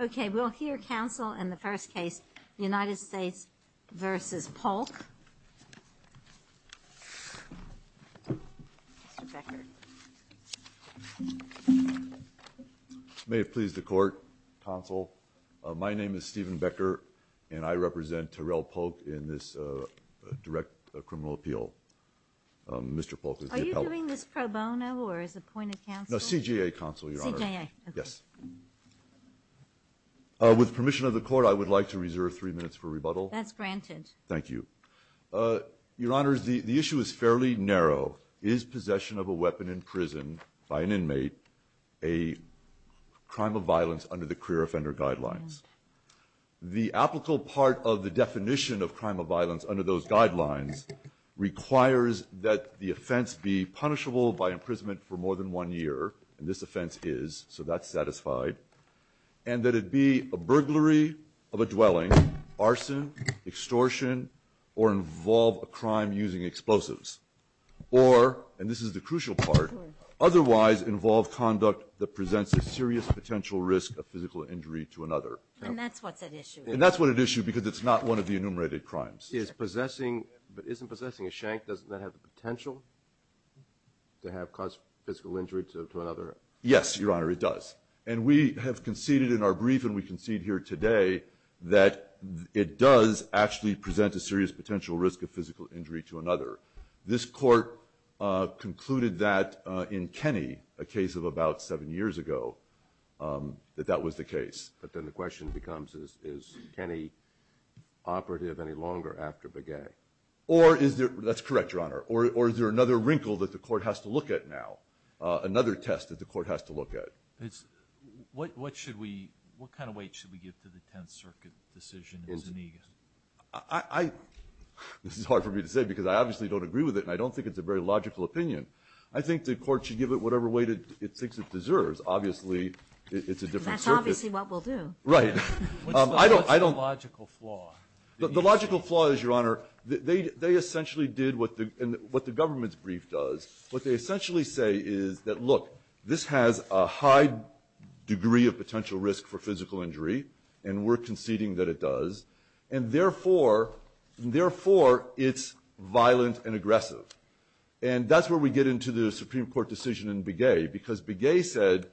Okay we'll hear counsel in the first case United States v. Polk. May it please the court, counsel. My name is Stephen Becker and I represent Terrell Polk in this direct criminal appeal. Mr. Polk. Are you doing this pro bono or as appointed counsel? CJA counsel, your honor. With permission of the court I would like to reserve three minutes for rebuttal. That's granted. Thank you. Your honors, the issue is fairly narrow. Is possession of a weapon in prison by an inmate a crime of violence under the career offender guidelines? The applicable part of the definition of crime of violence under those guidelines requires that the offense be punishable by imprisonment for more than one year, and this offense is, so that's satisfied, and that it be a burglary of a dwelling, arson, extortion, or involve a crime using explosives, or, and this is the crucial part, otherwise involve conduct that presents a serious potential risk of physical injury to another. And that's what's at issue. And that's what's at issue because it's not one of the enumerated crimes. Is possessing, but isn't possessing a shank, doesn't that have the potential to have cause physical injury to another? Yes, your honor, it does. And we have conceded in our brief, and we concede here today, that it does actually present a serious potential risk of physical injury to another. This court concluded that in Kenny, a case of about seven years ago, that that was the case. But then the question becomes, is Kenny operative any longer after Begay? Or is there, that's correct, your honor, or is there another wrinkle that the court has to look at now, another test that the court has to look at? It's, what should we, what kind of weight should we give to the Tenth Circuit decision in Zuniga? I, this is hard for me to say because I obviously don't agree with it, and I don't think it's a very logical opinion. I think the court should give it whatever weight it thinks deserves. Obviously, it's a different circuit. That's obviously what we'll do. Right. I don't, I don't. What's the logical flaw? The logical flaw is, your honor, they essentially did what the, what the government's brief does. What they essentially say is that, look, this has a high degree of potential risk for physical injury, and we're conceding that it does. And therefore, therefore it's violent and aggressive. And that's where we get into the Supreme Court decision in Begay, because Begay's said,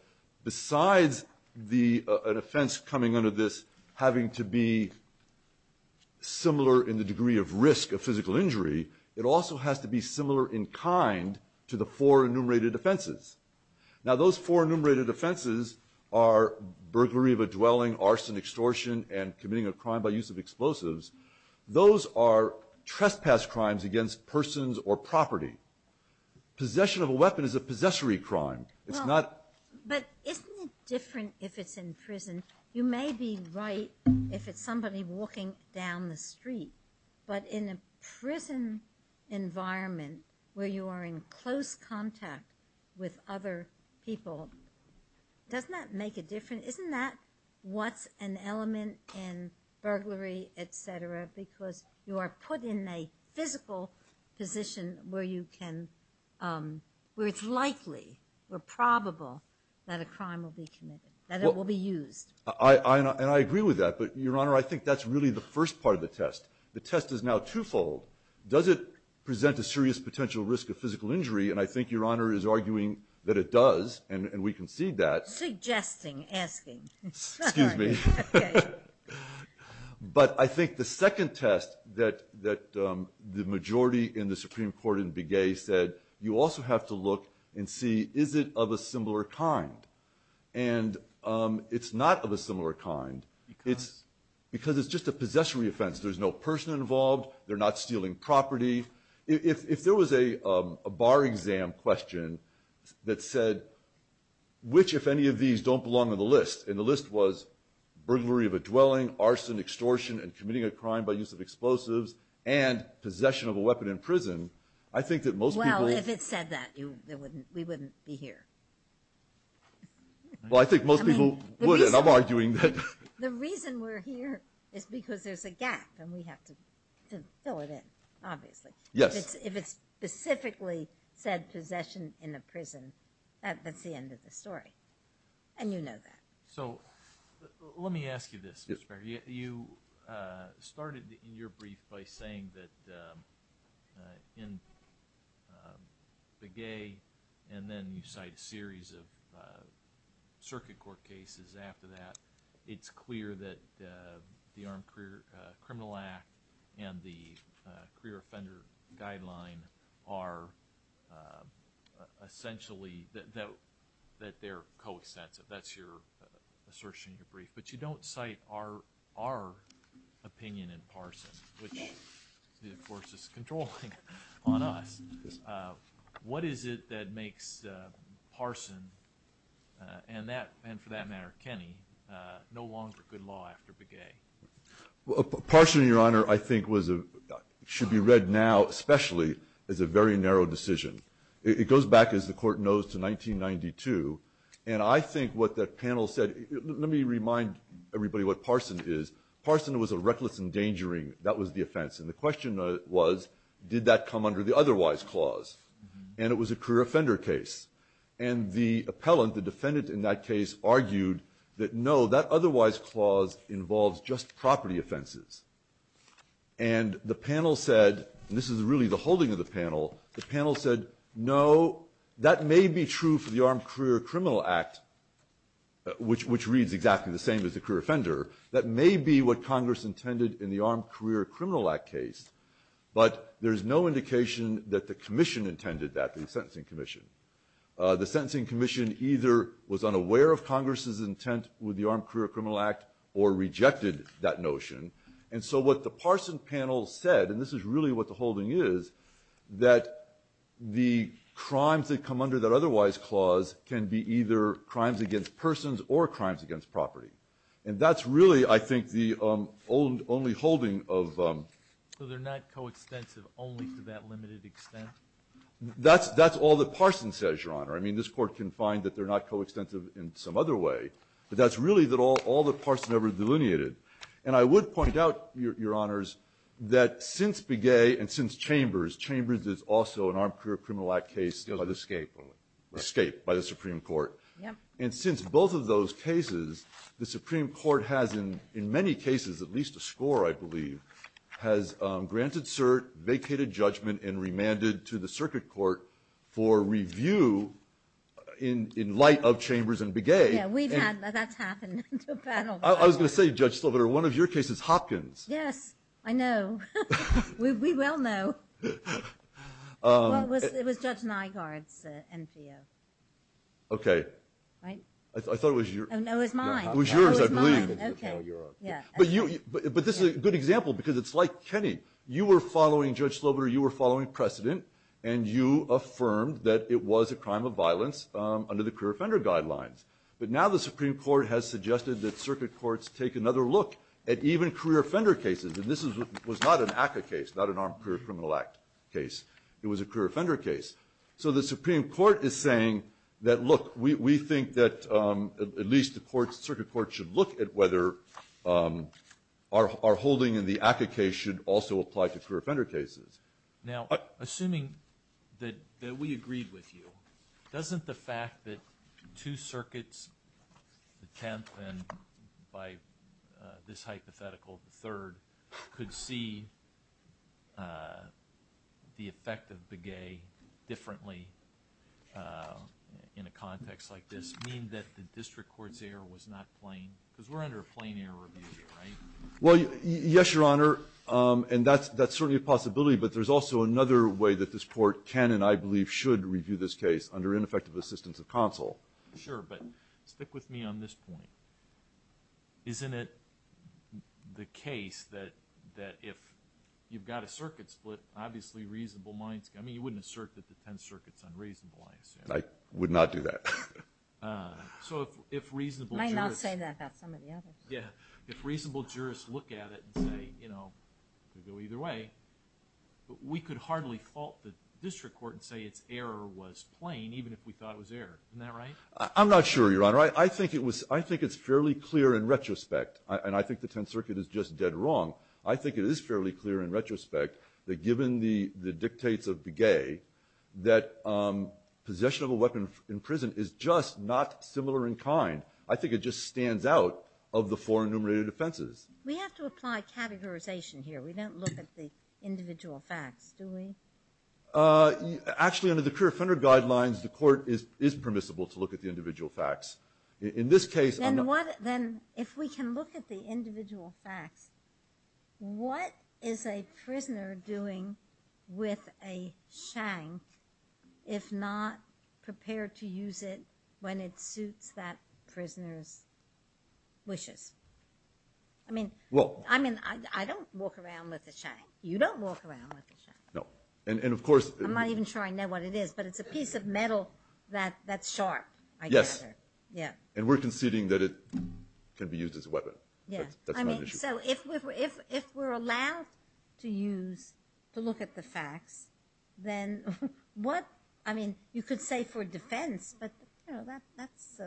besides the, an offense coming under this having to be similar in the degree of risk of physical injury, it also has to be similar in kind to the four enumerated offenses. Now, those four enumerated offenses are burglary of a dwelling, arson, extortion, and committing a crime by use of explosives. Those are trespass crimes against persons or property. Possession of a weapon is a But isn't it different if it's in prison? You may be right if it's somebody walking down the street, but in a prison environment where you are in close contact with other people, doesn't that make it different? Isn't that what's an element in burglary, etc., because you are put in a physical position where you can, where it's likely or probable that a crime will be committed, that it will be used. I, and I agree with that, but Your Honor, I think that's really the first part of the test. The test is now twofold. Does it present a serious potential risk of physical injury? And I think Your Honor is arguing that it does, and we concede that. Suggesting, asking. Excuse me. But I think the second test that the majority in the Supreme Court in Begay said, you also have to look and see, is it of a similar kind? And it's not of a similar kind. Because? Because it's just a possessory offense. There's no person involved. They're not stealing property. If there was a bar exam question that said, which, if any of these, don't belong on the list, and the list was burglary of a dwelling, arson, extortion, and committing a crime by use of explosives, and possession of a weapon in prison, I think that most people. Well, if it said that, we wouldn't be here. Well, I think most people wouldn't. I'm arguing that. The reason we're here is because there's a gap, and we have to fill it in, obviously. Yes. If it's specifically said possession in a prison, that's the end of the story. And you know that. So let me ask you this, Mr. Begay. You started in your brief by saying that in Begay, and then you cite a series of circuit court cases after that, it's clear that the Armed Criminal Act and the Career Offender Guideline are essentially, that they're coextensive. That's your assertion in your brief. But you don't cite our opinion in Parson, which, of course, is controlling on us. What is it that makes Parson, and for that matter, Kenney, no longer good law after Begay? Well, Parson, Your Honor, I think should be read now, especially, as a very narrow decision. It goes back, as the Court knows, to 1992. And I think what that panel said, let me remind everybody what Parson is. Parson was a reckless endangering. That was the offense. And the question was, did that come under the otherwise clause? And it was a career offender case. And the appellant, the defendant in that case, argued that, no, that otherwise clause involves just property offenses. And the panel said, and this is really the holding of the panel, the panel said, no, that may be true for the Armed Career Criminal Act, which reads exactly the same as the career offender. That may be what Congress intended in the Armed Career Criminal Act case. But there's no indication that the commission intended that, the sentencing commission. The sentencing commission either was unaware of Congress's intent with the Armed Career Criminal Act or rejected that notion. And so what the Parson panel said, and this is really what the holding is, that the crimes that come under that otherwise clause can be either crimes against persons or crimes against property. And that's really, I think, the only holding of them. So they're not coextensive only to that limited extent? That's all that Parson says, Your Honor. I mean, this Court can find that they're not coextensive in some other way. But that's really all that Parson ever delineated. And I would point out, Your Honors, that since Begay and since Chambers, Chambers is also an Armed Career Criminal Act case that was escaped by the Supreme Court. And since both of those cases, the Supreme Court has, in many cases, at least a score, I believe, has granted cert, vacated judgment, and remanded to the circuit court for review in light of Chambers and Begay. Yeah, we've had that happen to a panel. I was going to say, Judge Slobiter, one of your cases, Hopkins. Yes, I know. We well know. It was Judge Nygaard's NPO. Okay. Right? I thought it was yours. No, it was mine. It was yours, I believe. Okay. But this is a good example, because it's like Kenny. You were following, Judge Slobiter, you were following precedent, and you affirmed that it was a crime of violence under the career offender guidelines. But now the Supreme Court has suggested that circuit courts take another look at even career offender cases. And this was not an ACCA case, not an Armed Career Criminal Act case. It was a career offender case. So the Supreme Court is saying that, look, we think that at least the courts, circuit courts, should look at whether our holding in the ACCA case should also apply to career offender cases. Now, assuming that we agreed with you, doesn't the fact that two circuits, the 10th and by this hypothetical the 3rd, could see the effect of Begay differently in a context like this mean that the district court's error was not plain? Because we're under a plain error review here, right? Well, yes, Your Honor, and that's certainly a possibility. But there's also another way that this court can and I believe should review this case under ineffective assistance of counsel. Sure, but stick with me on this point. Isn't it the case that if you've got a circuit split, obviously reasonable minds, I mean, you wouldn't assert that the 10th circuit's unreasonable, I assume. I would not do that. So if reasonable jurists Might not say that about some of the others. Yeah, if reasonable jurists look at it and say, you know, it could go either way, we could hardly fault the district court and say its error was plain even if we thought it was error. Isn't that right? I'm not sure, Your Honor. I think it's fairly clear in retrospect, and I think the 10th circuit is just dead wrong, I think it is fairly clear in retrospect that given the dictates of Begay that possession of a weapon in prison is just not similar in kind. I think it just stands out of the four enumerated offenses. We have to apply categorization here. We don't look at the individual facts, do we? Actually, under the career offender guidelines, the court is permissible to look at the individual facts. Then if we can look at the individual facts, what is a prisoner doing with a shank if not prepared to use it when it suits that prisoner's wishes? I mean, I don't walk around with a shank. You don't walk around with a shank. No, and of course I'm not even sure I know what it is, but it's a piece of metal that's sharp. Yes, and we're conceding that it can be used as a weapon. That's not an issue. So if we're allowed to use, to look at the facts, then what, I mean, you could say for defense, but that's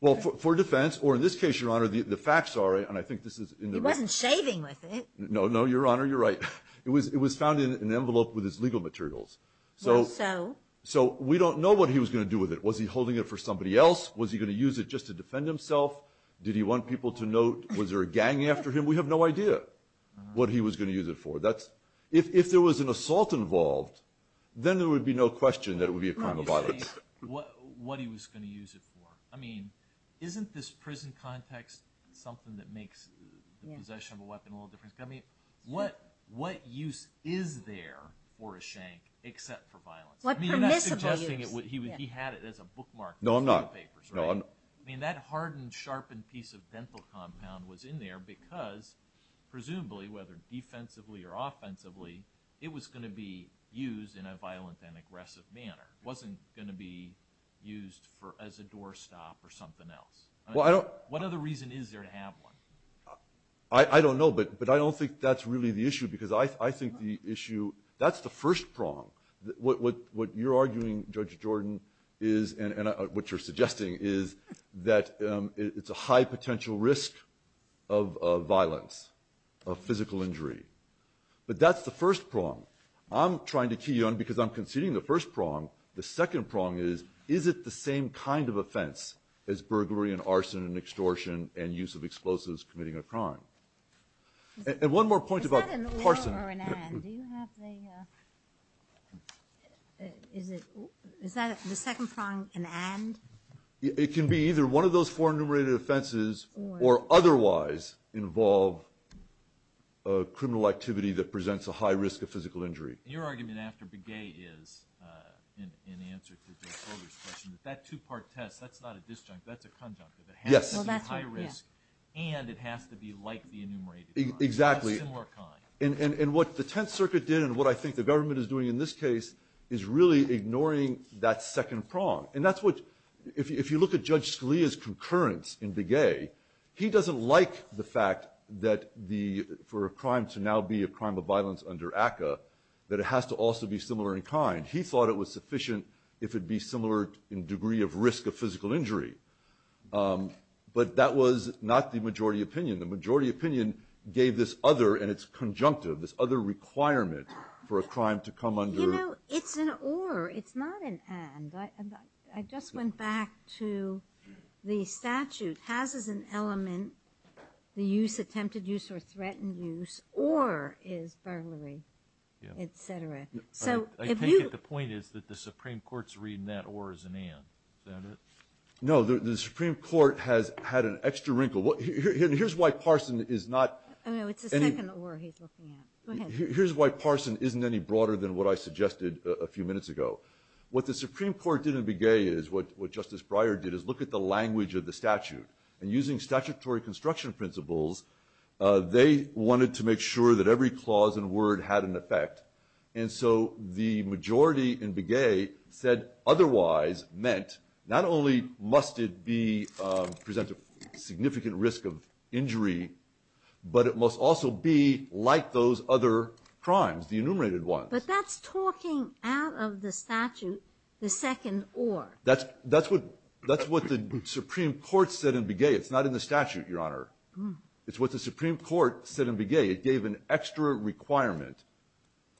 Well, for defense, or in this case, Your Honor, the facts are, and I think this is He wasn't shaving with it. No, no, Your Honor, you're right. It was found in an envelope with his legal materials. So So we don't know what he was going to do with it. Was he holding it for somebody else? Was he going to use it just to defend himself? Did he want people to note, was there a gang after him? We have no idea what he was going to use it for. If there was an assault involved, then there would be no question that it would be a crime of violence. What he was going to use it for. I mean, isn't this prison context something that makes the possession of a weapon a little different? I mean, what use is there for a shank except for violence? What permissible use? He had it as a bookmark. No, I'm not. I mean, that hardened, sharpened piece of dental compound was in there because presumably, whether defensively or offensively, it was going to be used in a violent and aggressive manner. It wasn't going to be used as a doorstop or something else. What other reason is there to have one? I don't know, but I don't think that's really the issue because I think the issue, that's the first prong. What you're arguing, Judge Jordan, and what you're suggesting is that it's a high potential risk of violence, of physical injury. But that's the first prong. I'm trying to key you on it because I'm conceding the first prong. The second prong is, is it the same kind of offense as burglary and arson and extortion and use of explosives committing a crime? And one more point about Parson. Is that a no or an and? Do you have the, is it, is that the second prong an and? It can be either one of those four enumerated offenses or otherwise involve criminal activity that presents a high risk of physical injury. Your argument after Begay is, in answer to Judge Holder's question, that that two-part test, that's not a disjunct, that's a conjunctive. Yes. And it has to be like the enumerated crime. Exactly. A similar kind. And what the Tenth Circuit did and what I think the government is doing in this case is really ignoring that second prong. And that's what, if you look at Judge Scalia's concurrence in Begay, he doesn't like the fact that the, for a crime to now be a crime of violence under ACCA, that it has to also be similar in kind. He thought it was sufficient if it be similar in degree of risk of physical injury. But that was not the majority opinion. The majority opinion gave this other, and it's conjunctive, this other requirement for a crime to come under. You know, it's an or, it's not an and. I just went back to the statute has as an element the use, attempted use or threatened use, or is burglary, et cetera. So if you. I think that the point is that the Supreme Court's reading that or as an and. Is that it? No, the Supreme Court has had an extra wrinkle. Here's why Parson is not. No, it's the second or he's looking at. Go ahead. Here's why Parson isn't any broader than what I suggested a few minutes ago. What the Supreme Court did in Begay is, what Justice Breyer did, is look at the language of the statute. And using statutory construction principles, they wanted to make sure that every clause and word had an effect. And so the majority in Begay said otherwise meant not only must it present a significant risk of injury, but it must also be like those other crimes, the enumerated ones. But that's talking out of the statute, the second or. That's what the Supreme Court said in Begay. It's not in the statute, Your Honor. It's what the Supreme Court said in Begay. It gave an extra requirement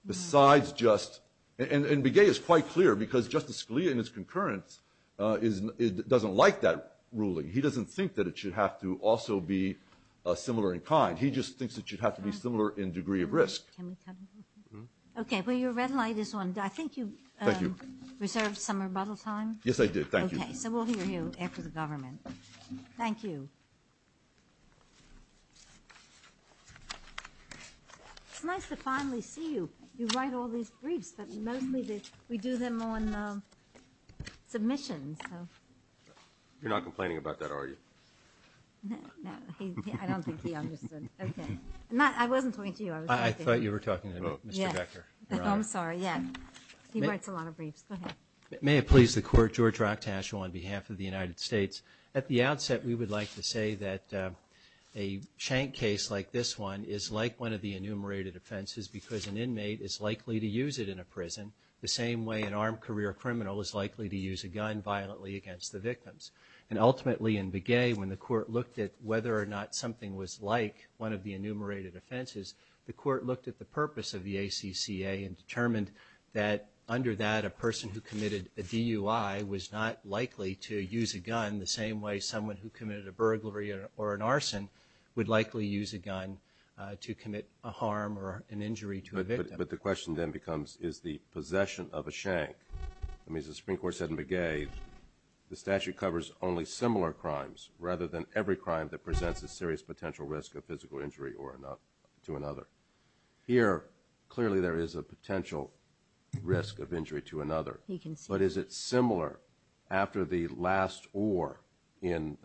besides just. And Begay is quite clear because Justice Scalia in his concurrence doesn't like that ruling. He doesn't think that it should have to also be similar in kind. He just thinks it should have to be similar in degree of risk. Okay, well, your red light is on. I think you reserved some rebuttal time. Yes, I did. Thank you. Okay, so we'll hear you after the government. Thank you. It's nice to finally see you. You write all these briefs, but mostly we do them on submissions. You're not complaining about that, are you? No, I don't think he understood. Okay. I wasn't talking to you. I thought you were talking to Mr. Becker. I'm sorry, yes. He writes a lot of briefs. Go ahead. May it please the Court, George Rocktash on behalf of the United States, at the outset we would like to say that a Schenck case like this one is like one of the enumerated offenses because an inmate is likely to use it in a prison the same way an armed career criminal is likely to use a gun violently against the victims. And ultimately in Begay when the Court looked at whether or not something was like one of the enumerated offenses, the Court looked at the purpose of the ACCA and determined that under that, a person who committed a DUI was not likely to use a gun the same way someone who committed a burglary or an arson would likely use a gun to commit a harm or an injury to a victim. But the question then becomes is the possession of a Schenck, I mean as the Supreme Court said in Begay the statute covers only similar crimes rather than every crime that presents a serious potential risk of physical injury to another. Here clearly there is a potential risk of injury to another. But is it similar after the last or in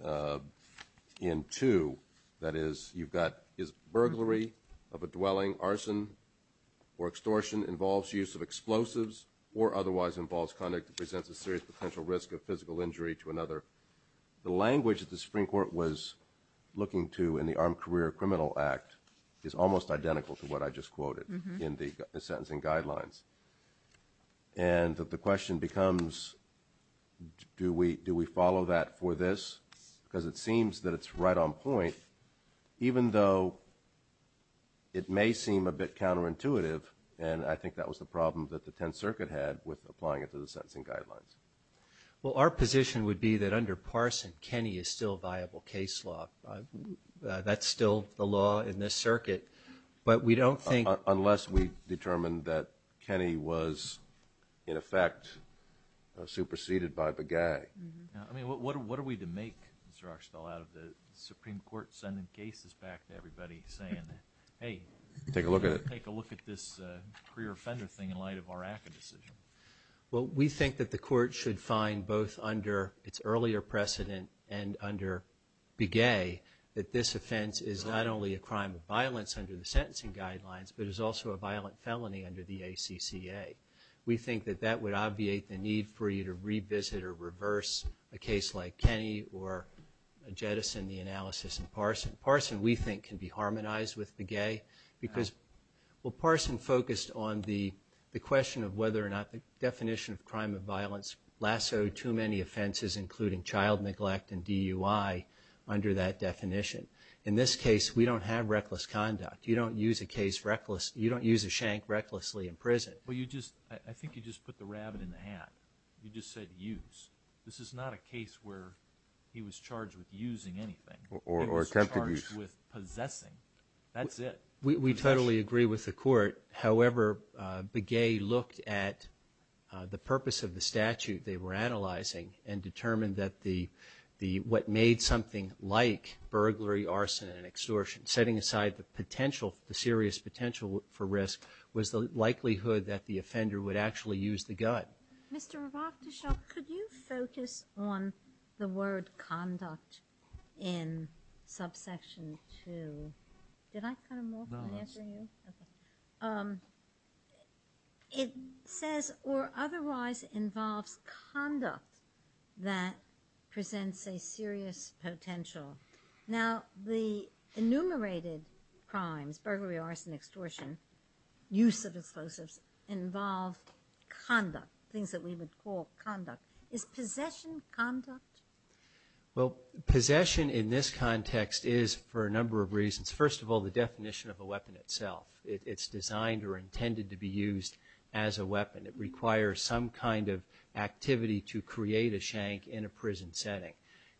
two, that is you've got is burglary of a dwelling, arson or extortion involves use of explosives or otherwise involves conduct that presents a serious potential risk of physical injury to another. The language that the Supreme Court was looking to in the Armed Career Criminal Act is almost identical to what I just quoted in the sentencing guidelines. And the question becomes do we follow that for this? Because it seems that it's right on point even though it may seem a bit counterintuitive and I think that was the problem that the Tenth Circuit had with applying it to the sentencing guidelines. Well, our position would be that under Parson, Kenny is still viable case law. That's still the law in this circuit. But we don't think. Unless we determine that Kenny was in effect superseded by Begay. I mean what are we to make, Mr. Archibald, out of the Supreme Court sending cases back to everybody saying hey. Take a look at it. Take a look at this career offender thing in light of our ACCA decision. Well, we think that the court should find both under its earlier precedent and under Begay that this offense is not only a crime of violence under the sentencing guidelines but is also a violent felony under the ACCA. We think that that would obviate the need for you to revisit or reverse a case like Kenny or jettison the analysis in Parson. Parson, we think, can be harmonized with Begay. Well, Parson focused on the question of whether or not the definition of crime of violence lassoed too many offenses including child neglect and DUI under that definition. In this case, we don't have reckless conduct. You don't use a case recklessly. You don't use a shank recklessly in prison. I think you just put the rabbit in the hat. You just said use. This is not a case where he was charged with using anything. Or attempted use. He was charged with possessing. That's it. We totally agree with the court. However, Begay looked at the purpose of the statute they were analyzing and determined that what made something like burglary, arson, and extortion, setting aside the potential, the serious potential for risk, was the likelihood that the offender would actually use the gun. Mr. Ravachtishev, could you focus on the word conduct in subsection 2? Did I kind of morph my answer to you? No. It says or otherwise involves conduct that presents a serious potential. Now, the enumerated crimes, burglary, arson, extortion, use of explosives involve conduct, things that we would call conduct. Is possession conduct? Well, possession in this context is for a number of reasons. First of all, the definition of a weapon itself. It's designed or intended to be used as a weapon. It requires some kind of activity to create a shank in a prison setting.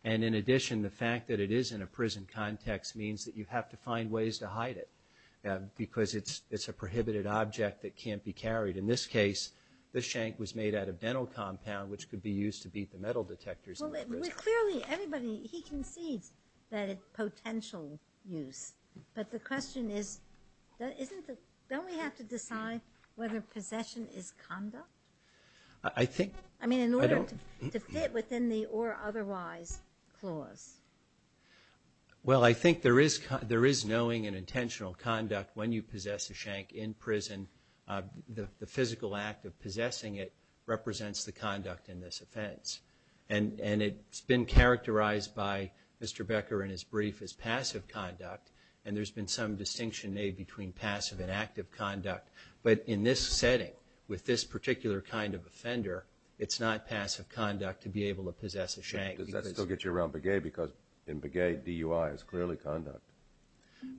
And in addition, the fact that it is in a prison context means that you have to find ways to hide it because it's a prohibited object that can't be carried. In this case, the shank was made out of dental compound, which could be used to beat the metal detectors in the prison. Well, clearly, everybody, he concedes that it's potential use. But the question is, don't we have to decide whether possession is conduct? I think. I mean, in order to fit within the or otherwise clause. Well, I think there is knowing and intentional conduct when you possess a shank in prison. The physical act of possessing it represents the conduct in this offense. And it's been characterized by Mr. Becker in his brief as passive conduct, and there's been some distinction made between passive and active conduct. But in this setting, with this particular kind of offender, it's not passive conduct to be able to possess a shank. Does that still get you around Begay? Because in Begay, DUI is clearly conduct.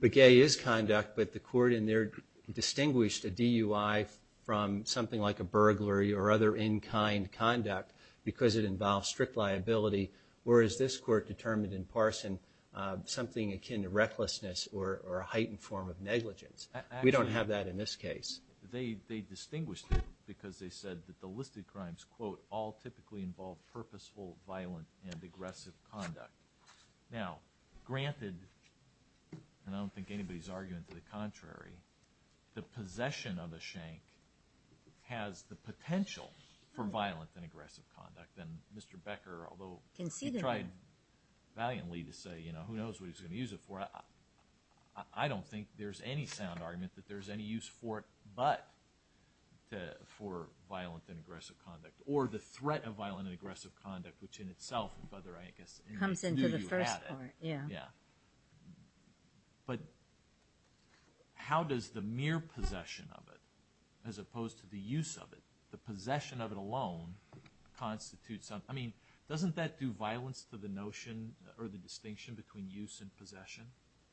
Begay is conduct, but the court in there distinguished a DUI from something like a burglary or other in-kind conduct because it involves strict liability, or as this court determined in Parson, something akin to recklessness or a heightened form of negligence. We don't have that in this case. They distinguished it because they said that the listed crimes, quote, all typically involve purposeful, violent, and aggressive conduct. Now, granted, and I don't think anybody's arguing to the contrary, the possession of a shank has the potential for violent and aggressive conduct. And Mr. Becker, although he tried valiantly to say, you know, who knows what he's going to use it for, I don't think there's any sound argument that there's any use for it but for violent and aggressive conduct. Or the threat of violent and aggressive conduct, which in itself, whether I guess in the DUI you had it. Yeah. But how does the mere possession of it, as opposed to the use of it, the possession of it alone constitutes something? I mean, doesn't that do violence to the notion or the distinction between use and possession?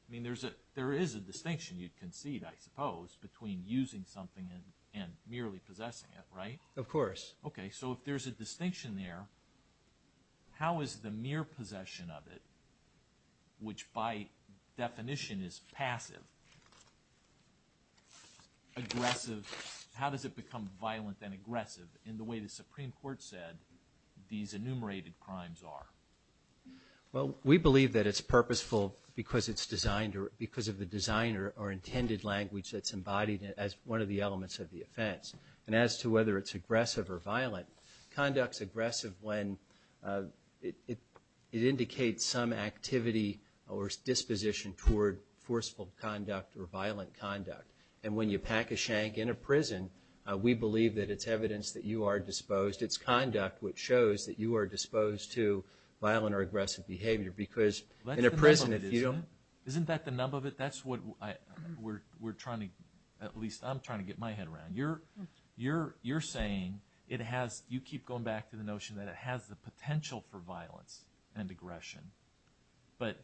I mean, there is a distinction, you'd concede, I suppose, between using something and merely possessing it, right? Of course. Okay. So if there's a distinction there, how is the mere possession of it, which by definition is passive, aggressive, how does it become violent and aggressive in the way the Supreme Court said these enumerated crimes are? Well, we believe that it's purposeful because it's designed or because of the designer or intended language that's embodied as one of the elements of the offense. And as to whether it's aggressive or violent, conduct's aggressive when it indicates some activity or disposition toward forceful conduct or violent conduct. And when you pack a shank in a prison, we believe that it's evidence that you are disposed. It's conduct which shows that you are disposed to violent or aggressive behavior. Because in a prison, if you don't... Isn't that the number of it? That's what we're trying to, at least I'm trying to get my head around. You're saying it has... You keep going back to the notion that it has the potential for violence and aggression. But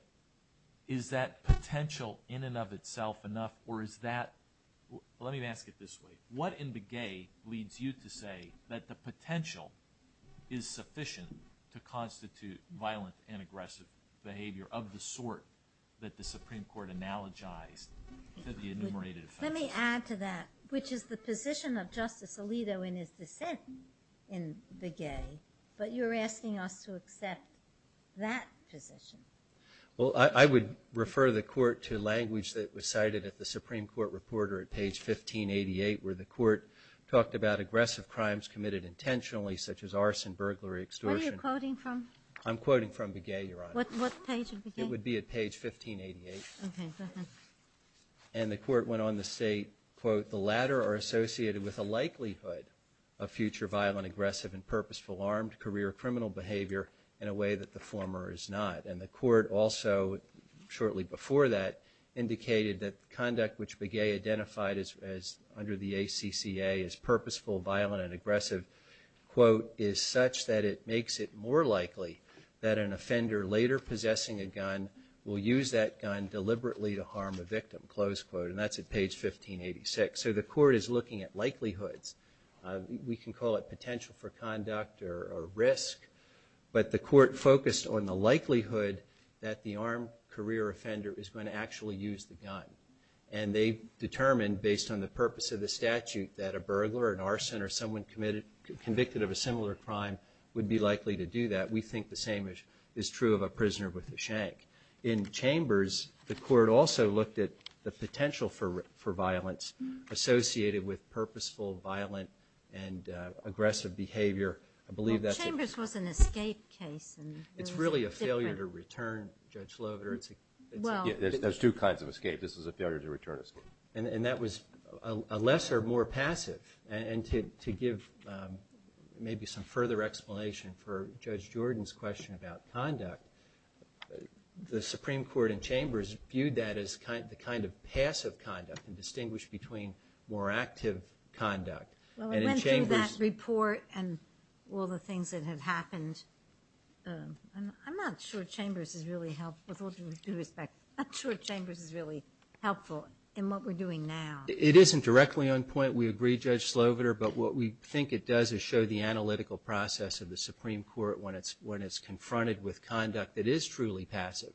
is that potential in and of itself enough or is that... Let me ask it this way. What in the gay leads you to say that the potential is sufficient to constitute violent and aggressive behavior of the sort that the Supreme Court analogized to the enumerated offense? Let me add to that, which is the position of Justice Alito in his dissent in Begay. But you're asking us to accept that position. Well, I would refer the Court to language that was cited at the Supreme Court reporter at page 1588 where the Court talked about aggressive crimes committed intentionally such as arson, burglary, extortion. What are you quoting from? I'm quoting from Begay, Your Honor. What page of Begay? It would be at page 1588. Okay, go ahead. And the Court went on to state, quote, the latter are associated with a likelihood of future violent, aggressive, and purposeful armed career criminal behavior in a way that the former is not. And the Court also, shortly before that, indicated that the conduct which Begay identified under the ACCA as purposeful, violent, and aggressive, quote, is such that it makes it more likely that an offender later possessing a gun will use that gun deliberately to harm a victim, close quote. And that's at page 1586. So the Court is looking at likelihoods. We can call it potential for conduct or risk, but the Court focused on the likelihood that the armed career offender is going to actually use the gun. And they determined, based on the purpose of the statute, that a burglar, an arson, or someone convicted of a similar crime would be likely to do that. We think the same is true of a prisoner with a shank. In Chambers, the Court also looked at the potential for violence associated with purposeful, violent, and aggressive behavior. I believe that's a... Well, Chambers was an escape case. It's really a failure to return, Judge Lovetter. There's two kinds of escape. This is a failure to return escape. And that was a lesser, more passive. And to give maybe some further explanation for Judge Jordan's question about conduct, the Supreme Court in Chambers viewed that as the kind of passive conduct and distinguished between more active conduct. Well, I went through that report and all the things that had happened. I'm not sure Chambers has really helped with all due respect. I'm not sure Chambers is really helpful in what we're doing now. It isn't directly on point. We agree, Judge Lovetter. But what we think it does is show the analytical process of the Supreme Court when it's confronted with conduct that is truly passive.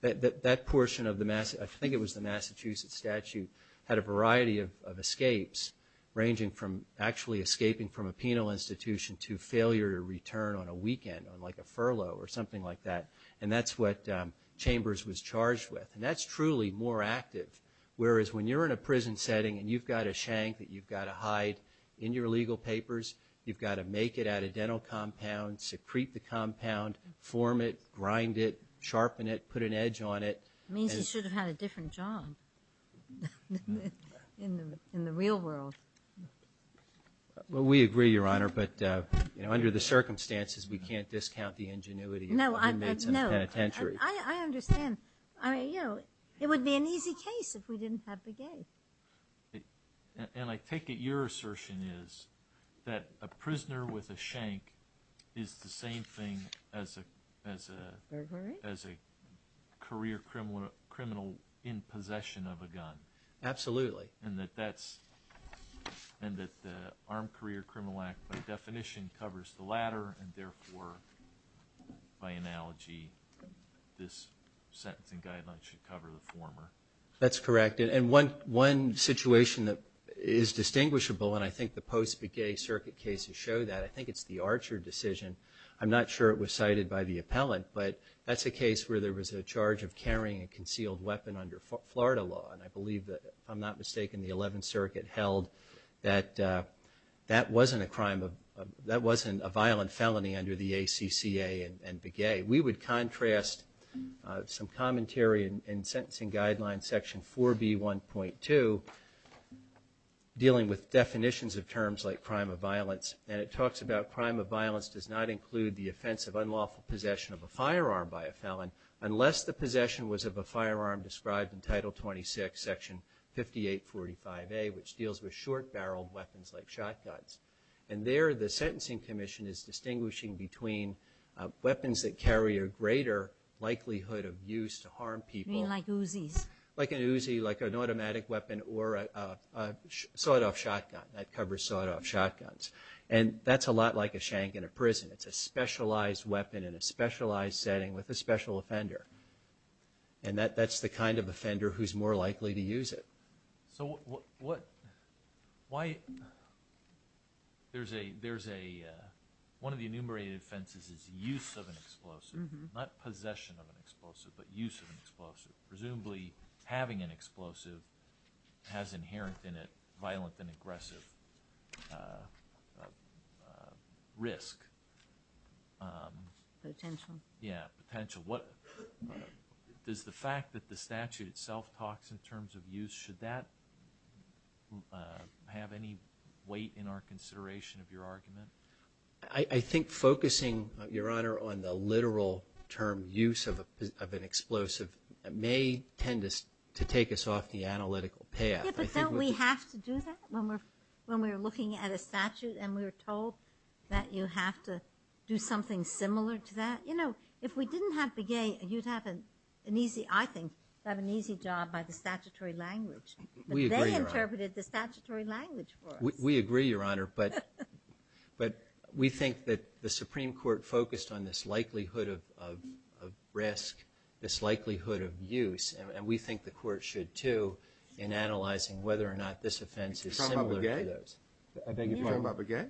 That portion of the Mass... I think it was the Massachusetts statute had a variety of escapes, ranging from actually escaping from a penal institution to failure to return on a weekend, like a furlough or something like that. And that's what Chambers was charged with. And that's truly more active. Whereas when you're in a prison setting and you've got a shank that you've got to hide in your legal papers, you've got to make it out of dental compounds, secrete the compound, form it, grind it, sharpen it, put an edge on it. It means you should have had a different job in the real world. Well, we agree, Your Honor. But under the circumstances, we can't discount the ingenuity of inmates in the penitentiary. I understand. I mean, you know, it would be an easy case if we didn't have the gate. And I take it your assertion is that a prisoner with a shank is the same thing as a... Burglary? As a career criminal in possession of a gun. Absolutely. And that that's... And that the Armed Career Criminal Act by definition covers the latter and, therefore, by analogy, this sentencing guideline should cover the former. That's correct. And one situation that is distinguishable, and I think the post-Begay Circuit cases show that, I think it's the Archer decision. I'm not sure it was cited by the appellant, but that's a case where there was a charge of carrying a concealed weapon under Florida law. And I believe that, if I'm not mistaken, held that that wasn't a violent felony under the ACCA and Begay. We would contrast some commentary in sentencing guideline section 4B1.2 dealing with definitions of terms like crime of violence. And it talks about crime of violence does not include the offense of unlawful possession of a firearm by a felon unless the possession was of a firearm described in Title 26, Section 5845A, which deals with short-barreled weapons like shotguns. And there the sentencing commission is distinguishing between weapons that carry a greater likelihood of use to harm people. You mean like Uzis? Like an Uzi, like an automatic weapon, or a sawed-off shotgun. That covers sawed-off shotguns. And that's a lot like a shank in a prison. It's a specialized weapon in a specialized setting with a special offender. And that's the kind of offender who's more likely to use it. So what, why, there's a, one of the enumerated offenses is use of an explosive, not possession of an explosive, but use of an explosive. Potential. Yeah, potential. What, does the fact that the statute itself talks in terms of use, should that have any weight in our consideration of your argument? I think focusing, Your Honor, on the literal term use of an explosive may tend to take us off the analytical path. Yeah, but don't we have to do that when we're looking at a statute and we're told that you have to do something similar to that? You know, if we didn't have Begay, you'd have an easy, I think, you'd have an easy job by the statutory language. We agree, Your Honor. But they interpreted the statutory language for us. We agree, Your Honor. But we think that the Supreme Court focused on this likelihood of risk, this likelihood of use, and we think the Court should too, in analyzing whether or not this offense is similar to those. Are you talking about Begay?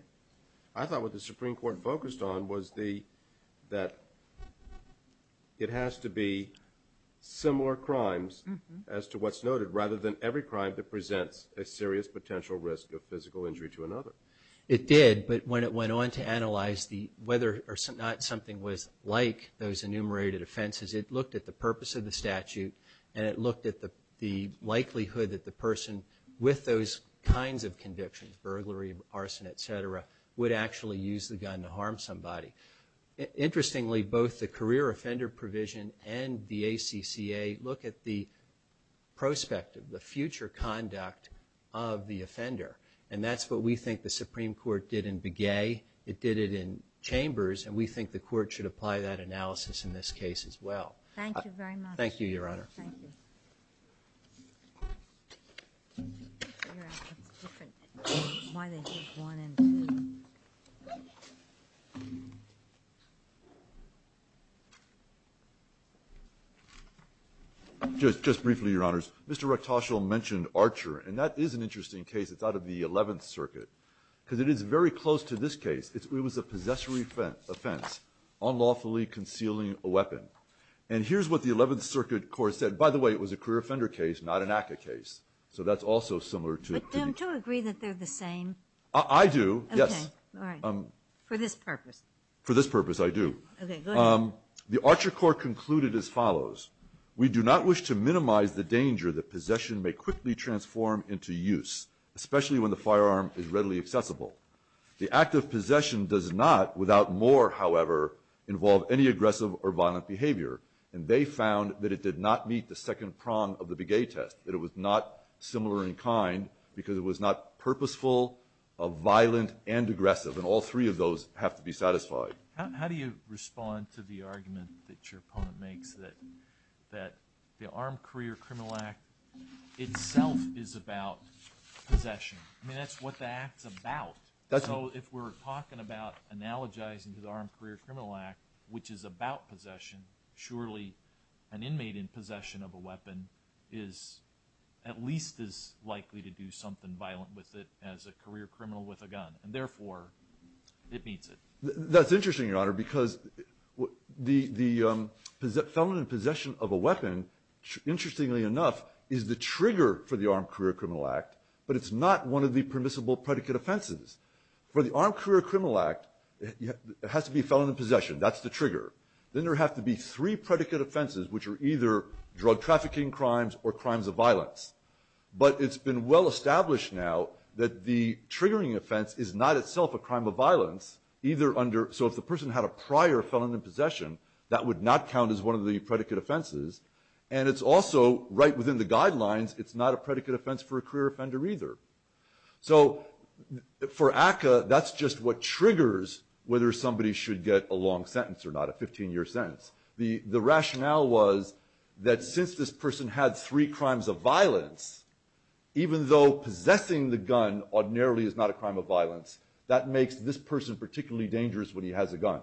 I thought what the Supreme Court focused on was that it has to be similar crimes as to what's noted rather than every crime that presents a serious potential risk of physical injury to another. It did, but when it went on to analyze whether or not something was like those enumerated offenses, it looked at the purpose of the statute and it looked at the likelihood that the person with those kinds of convictions, burglary, arson, et cetera, would actually use the gun to harm somebody. Interestingly, both the Career Offender Provision and the ACCA look at the prospective, the future conduct of the offender, and that's what we think the Supreme Court did in Begay. It did it in Chambers, and we think the Court should apply that analysis in this case as well. Thank you very much. Thank you, Your Honor. Just briefly, Your Honors. Mr. Rectoshal mentioned Archer, and that is an interesting case. It's out of the Eleventh Circuit, because it is very close to this case. It was a possessory offense, unlawfully concealing a weapon. And here's what the Eleventh Circuit Court said. By the way, it was a career offender case, not an ACCA case, so that's also similar to the case. But don't you agree that they're the same? I do, yes. Okay. All right. For this purpose. For this purpose, I do. Okay, good. The Archer Court concluded as follows. We do not wish to minimize the danger that possession may quickly transform into use, especially when the firearm is readily accessible. The act of possession does not, without more, however, involve any aggressive or violent behavior. And they found that it did not meet the second prong of the Begay test, that it was not similar in kind, because it was not purposeful, violent, and aggressive. And all three of those have to be satisfied. How do you respond to the argument that your opponent makes, that the Armed Career Criminal Act itself is about possession? I mean, that's what the act's about. So if we're talking about analogizing to the Armed Career Criminal Act, which is about possession, surely an inmate in possession of a weapon is at least as likely to do something violent with it as a career criminal with a gun, and therefore it meets it. That's interesting, Your Honor, because the felon in possession of a weapon, interestingly enough, is the trigger for the Armed Career Criminal Act, but it's not one of the permissible predicate offenses. For the Armed Career Criminal Act, it has to be felon in possession. That's the trigger. Then there have to be three predicate offenses, which are either drug trafficking crimes or crimes of violence. But it's been well established now that the triggering offense is not itself a crime of violence, either under so if the person had a prior felon in possession, that would not count as one of the predicate offenses. And it's also, right within the guidelines, it's not a predicate offense for a career offender either. So for ACCA, that's just what triggers whether somebody should get a long sentence or not, a 15-year sentence. The rationale was that since this person had three crimes of violence, even though possessing the gun ordinarily is not a crime of violence, that makes this person particularly dangerous when he has a gun.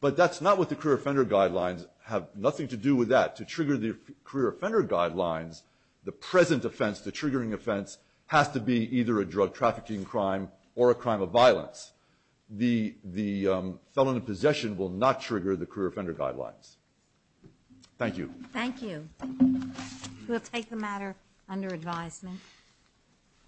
But that's not what the career offender guidelines have nothing to do with that. To trigger the career offender guidelines, the present offense, the triggering offense, has to be either a drug trafficking crime or a crime of violence. The felon in possession will not trigger the career offender guidelines. Thank you. Thank you. We'll take the matter under advisement.